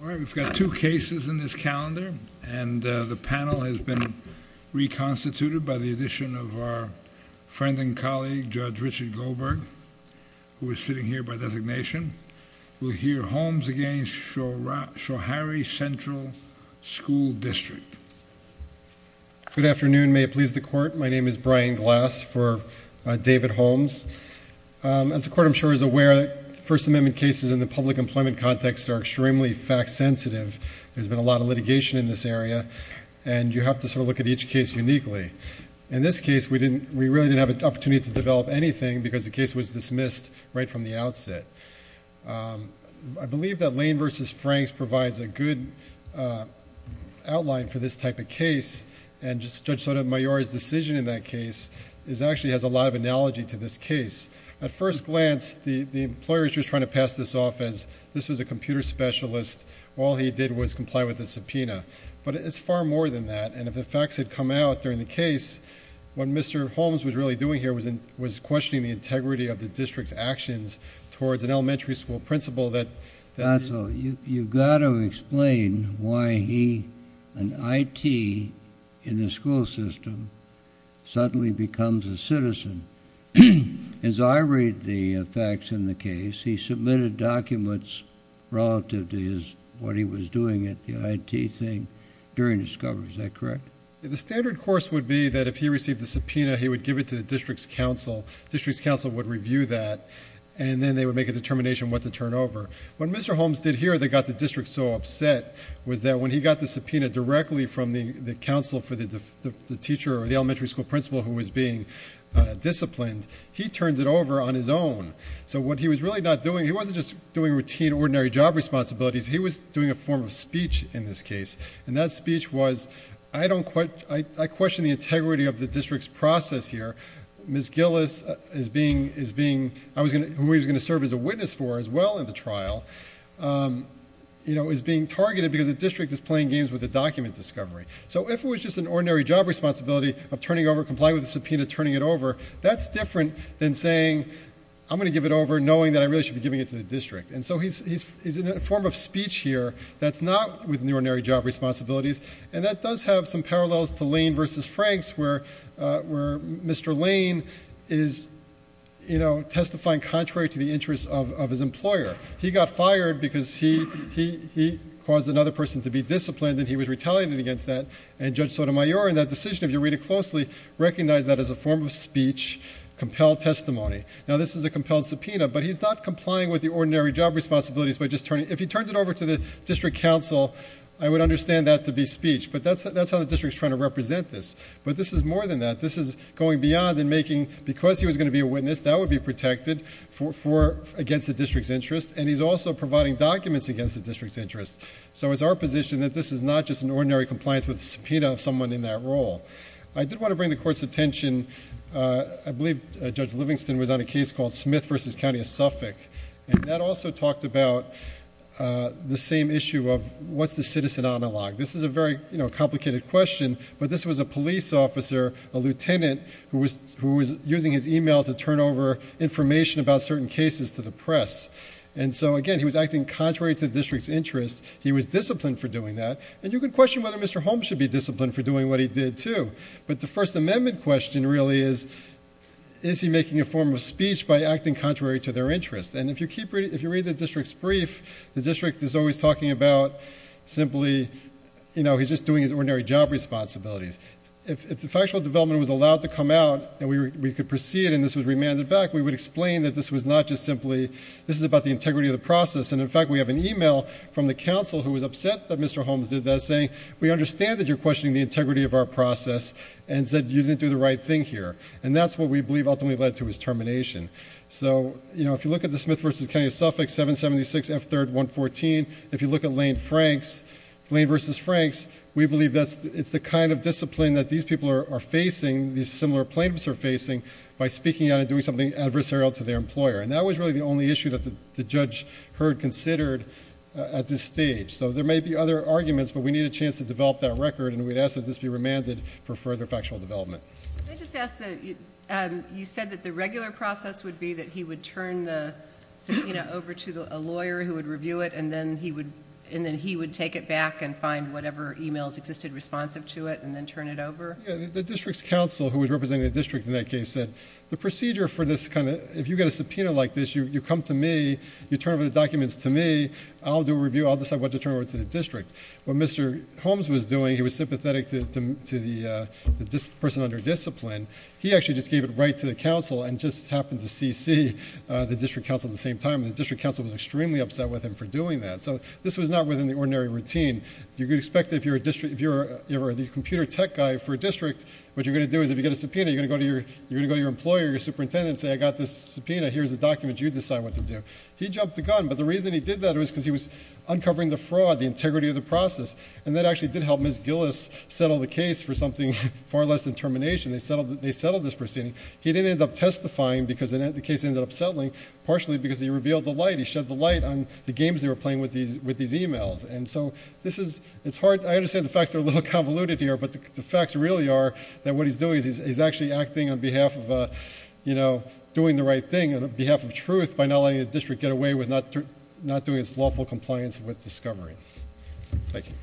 All right, we've got two cases in this calendar, and the panel has been reconstituted by the addition of our friend and colleague, Judge Richard Goldberg, who is sitting here by designation. We'll hear Holmes against Schoharie Central School District. Good afternoon, may it please the Court. My name is Brian Glass for David Holmes. As the Court, I'm sure, is aware, First Amendment cases in the public employment context are extremely fact-sensitive. There's been a lot of litigation in this area, and you have to sort of look at each case uniquely. In this case, we really didn't have an opportunity to develop anything because the case was dismissed right from the outset. I believe that Lane v. Franks provides a good outline for this type of case, and Judge Sotomayor's decision in that case actually has a lot of analogy to this case. At first glance, the employer is just trying to pass this off as this was a computer specialist. All he did was comply with the subpoena, but it's far more than that. If the facts had come out during the case, what Mr. Holmes was really doing here was questioning the integrity of the district's actions towards an elementary school principal. You've got to explain why he, an IT in the school system, suddenly becomes a citizen. As I read the facts in the case, he submitted documents relative to what he was doing at the IT thing during discovery. Is that correct? The standard course would be that if he received the subpoena, he would give it to the district's counsel. The district's counsel would review that, and then they would make a determination what to turn over. What Mr. Holmes did here that got the district so upset was that when he got the subpoena directly from the counsel for the teacher or the elementary school principal who was being disciplined, he turned it over on his own. What he was really not doing, he wasn't just doing routine, ordinary job responsibilities. He was doing a form of speech in this case, and that speech was, I question the integrity of the district's process here. Ms. Gillis, who he was going to serve as a witness for as well in the trial, is being targeted because the district is playing games with the document discovery. If it was just an ordinary job responsibility of turning over, complying with the subpoena, turning it over, that's different than saying, I'm going to give it over knowing that I really should be giving it to the district. He's in a form of speech here that's not within the ordinary job responsibilities. And that does have some parallels to Lane versus Franks, where Mr. Lane is testifying contrary to the interests of his employer. He got fired because he caused another person to be disciplined, and he was retaliated against that. And Judge Sotomayor, in that decision, if you read it closely, recognized that as a form of speech, compelled testimony. Now, this is a compelled subpoena, but he's not complying with the ordinary job responsibilities. If he turned it over to the district council, I would understand that to be speech. But that's how the district's trying to represent this. But this is more than that. This is going beyond and making, because he was going to be a witness, that would be protected against the district's interest. And he's also providing documents against the district's interest. So it's our position that this is not just an ordinary compliance with the subpoena of someone in that role. I did want to bring the court's attention, I believe Judge Livingston was on a case called Smith versus County of Suffolk. And that also talked about the same issue of what's the citizen analog? This is a very complicated question, but this was a police officer, a lieutenant, who was using his email to turn over information about certain cases to the press. And so, again, he was acting contrary to the district's interest. He was disciplined for doing that. And you could question whether Mr. Holmes should be disciplined for doing what he did, too. But the First Amendment question really is, is he making a form of speech by acting contrary to their interest? And if you read the district's brief, the district is always talking about simply he's just doing his ordinary job responsibilities. If the factual development was allowed to come out and we could proceed and this was remanded back, we would explain that this was not just simply, this is about the integrity of the process. And, in fact, we have an email from the council who was upset that Mr. Holmes did that, saying we understand that you're questioning the integrity of our process and said you didn't do the right thing here. And that's what we believe ultimately led to his termination. So, you know, if you look at the Smith v. Kennedy of Suffolk, 776 F3rd 114, if you look at Lane vs. Franks, we believe it's the kind of discipline that these people are facing, these similar plaintiffs are facing, by speaking out and doing something adversarial to their employer. And that was really the only issue that the judge heard considered at this stage. So there may be other arguments, but we need a chance to develop that record, and we'd ask that this be remanded for further factual development. Can I just ask that you said that the regular process would be that he would turn the subpoena over to a lawyer who would review it, and then he would take it back and find whatever emails existed responsive to it and then turn it over? Yeah, the district's counsel, who was representing the district in that case, said, the procedure for this kind of, if you get a subpoena like this, you come to me, you turn over the documents to me, I'll do a review, I'll decide what to turn over to the district. What Mr. Holmes was doing, he was sympathetic to the person under discipline. He actually just gave it right to the counsel and just happened to CC the district counsel at the same time, and the district counsel was extremely upset with him for doing that. So this was not within the ordinary routine. You could expect that if you're the computer tech guy for a district, what you're going to do is, if you get a subpoena, you're going to go to your employer, your superintendent, and say, I got this subpoena, here's the documents, you decide what to do. He jumped the gun, but the reason he did that was because he was uncovering the fraud, the integrity of the process, and that actually did help Ms. Gillis settle the case for something far less than termination. They settled this proceeding. He didn't end up testifying because the case ended up settling, partially because he revealed the light. He shed the light on the games they were playing with these e-mails. And so this is, it's hard, I understand the facts are a little convoluted here, but the facts really are that what he's doing is he's actually acting on behalf of, you know, doing the right thing on behalf of truth by not letting the district get away with not doing its lawful compliance with discovery. Thank you.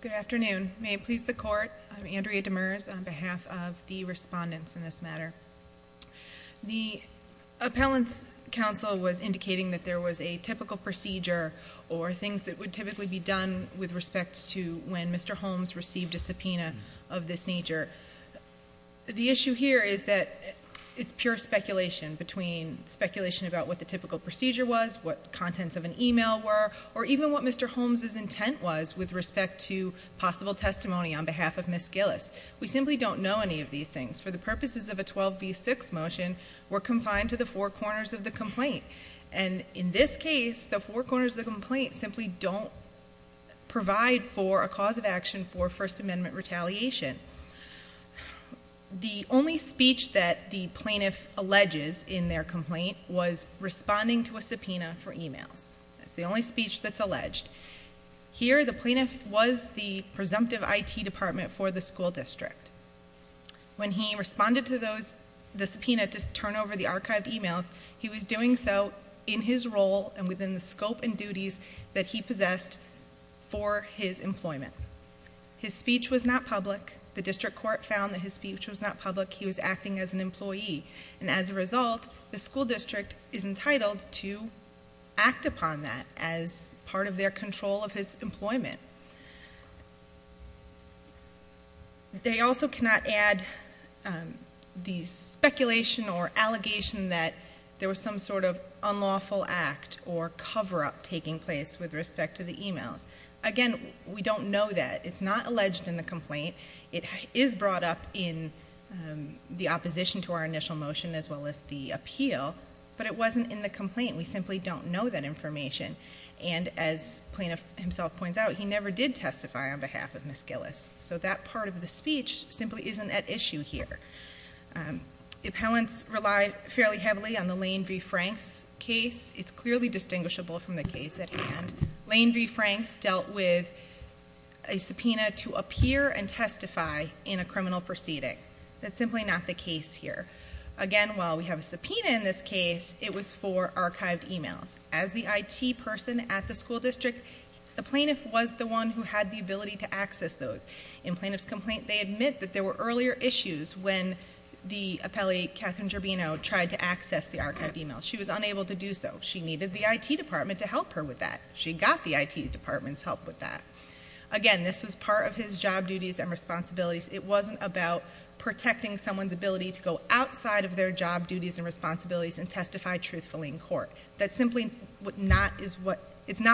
Good afternoon. May it please the court, I'm Andrea Demers on behalf of the respondents in this matter. The appellant's counsel was indicating that there was a typical procedure or things that would typically be done with respect to when Mr. Holmes received a subpoena of this nature. The issue here is that it's pure speculation, between speculation about what the typical procedure was, what contents of an e-mail were, or even what Mr. Holmes' intent was with respect to possible testimony on behalf of Ms. Gillis. We simply don't know any of these things. For the purposes of a 12B6 motion, we're confined to the four corners of the complaint. And in this case, the four corners of the complaint simply don't provide for a cause of action for First Amendment retaliation. The only speech that the plaintiff alleges in their complaint was responding to a subpoena for e-mails. That's the only speech that's alleged. Here, the plaintiff was the presumptive IT department for the school district. When he responded to the subpoena to turn over the archived e-mails, he was doing so in his role and within the scope and duties that he possessed for his employment. His speech was not public. The district court found that his speech was not public. He was acting as an employee. And as a result, the school district is entitled to act upon that as part of their control of his employment. They also cannot add the speculation or allegation that there was some sort of unlawful act or cover-up taking place with respect to the e-mails. Again, we don't know that. It's not alleged in the complaint. It is brought up in the opposition to our initial motion as well as the appeal. But it wasn't in the complaint. We simply don't know that information. And as plaintiff himself points out, he never did testify on behalf of Ms. Gillis. So that part of the speech simply isn't at issue here. The appellants relied fairly heavily on the Lane v. Franks case. It's clearly distinguishable from the case at hand. Lane v. Franks dealt with a subpoena to appear and testify in a criminal proceeding. That's simply not the case here. Again, while we have a subpoena in this case, it was for archived e-mails. As the IT person at the school district, the plaintiff was the one who had the ability to access those. In plaintiff's complaint, they admit that there were earlier issues when the appellee, Catherine Gerbino, tried to access the archived e-mails. She was unable to do so. She needed the IT department to help her with that. She got the IT department's help with that. Again, this was part of his job duties and responsibilities. It wasn't about protecting someone's ability to go outside of their job duties and responsibilities and testify truthfully in court. That's simply not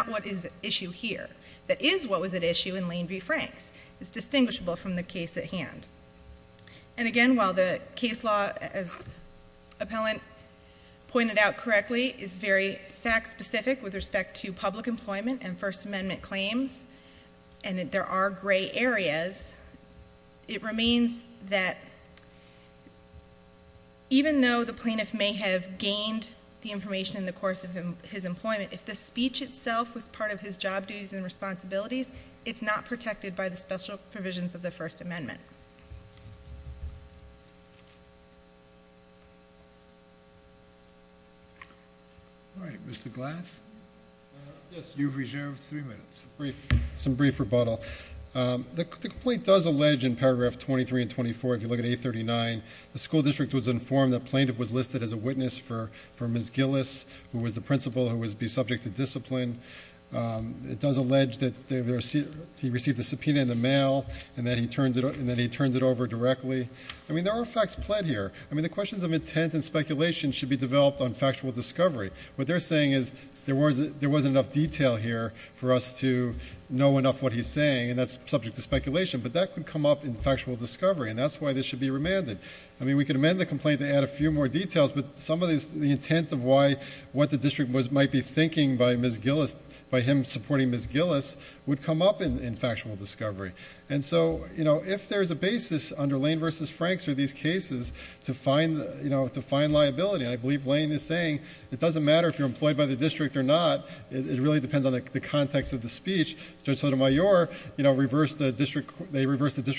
what is at issue here. That is what was at issue in Lane v. Franks. It's distinguishable from the case at hand. And again, while the case law, as appellant pointed out correctly, is very fact-specific with respect to public employment and First Amendment claims, and that there are gray areas, it remains that even though the plaintiff may have gained the information in the course of his employment, if the speech itself was part of his job duties and responsibilities, it's not protected by the special provisions of the First Amendment. All right. Mr. Glass? Yes. You've reserved three minutes. Some brief rebuttal. The complaint does allege in paragraph 23 and 24, if you look at 839, the school district was informed the plaintiff was listed as a witness for Ms. Gillis, who was the principal who would be subject to discipline. It does allege that he received a subpoena in the mail, and that he turned it over directly. I mean, there are facts pled here. I mean, the questions of intent and speculation should be developed on factual discovery. What they're saying is there wasn't enough detail here for us to know enough what he's saying, and that's subject to speculation. But that could come up in factual discovery, and that's why this should be remanded. I mean, we could amend the complaint to add a few more details, but some of the intent of what the district might be thinking by Ms. Gillis, by him supporting Ms. Gillis, would come up in factual discovery. And so, if there's a basis under Lane versus Franks or these cases to find liability, and I believe Lane is saying it doesn't matter if you're employed by the district or not, it really depends on the context of the speech. Judge Sotomayor reversed the district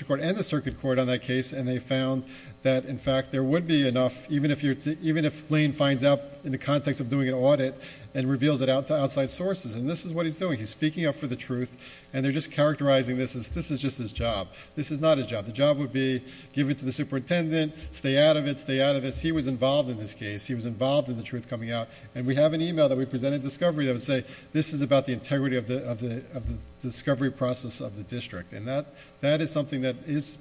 court and the circuit court on that case, and they found that, in fact, there would be enough, even if Lane finds out in the context of doing an audit and reveals it to outside sources. And this is what he's doing. He's speaking up for the truth, and they're just characterizing this as this is just his job. This is not his job. The job would be give it to the superintendent, stay out of it, stay out of this. He was involved in this case. He was involved in the truth coming out. And we have an email that we presented at discovery that would say this is about the integrity of the discovery process of the district. And that is something that is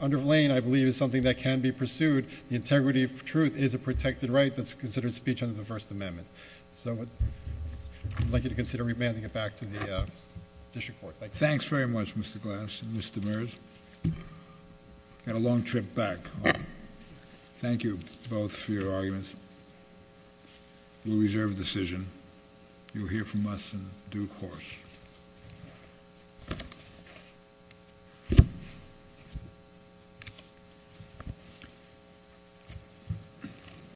under Lane, I believe, is something that can be pursued. The integrity of truth is a protected right that's considered speech under the First Amendment. So I'd like you to consider remanding it back to the district court. Thank you. Thanks very much, Mr. Glass and Mr. Mears. Got a long trip back. Thank you both for your arguments. We reserve the decision. You'll hear from us in due course.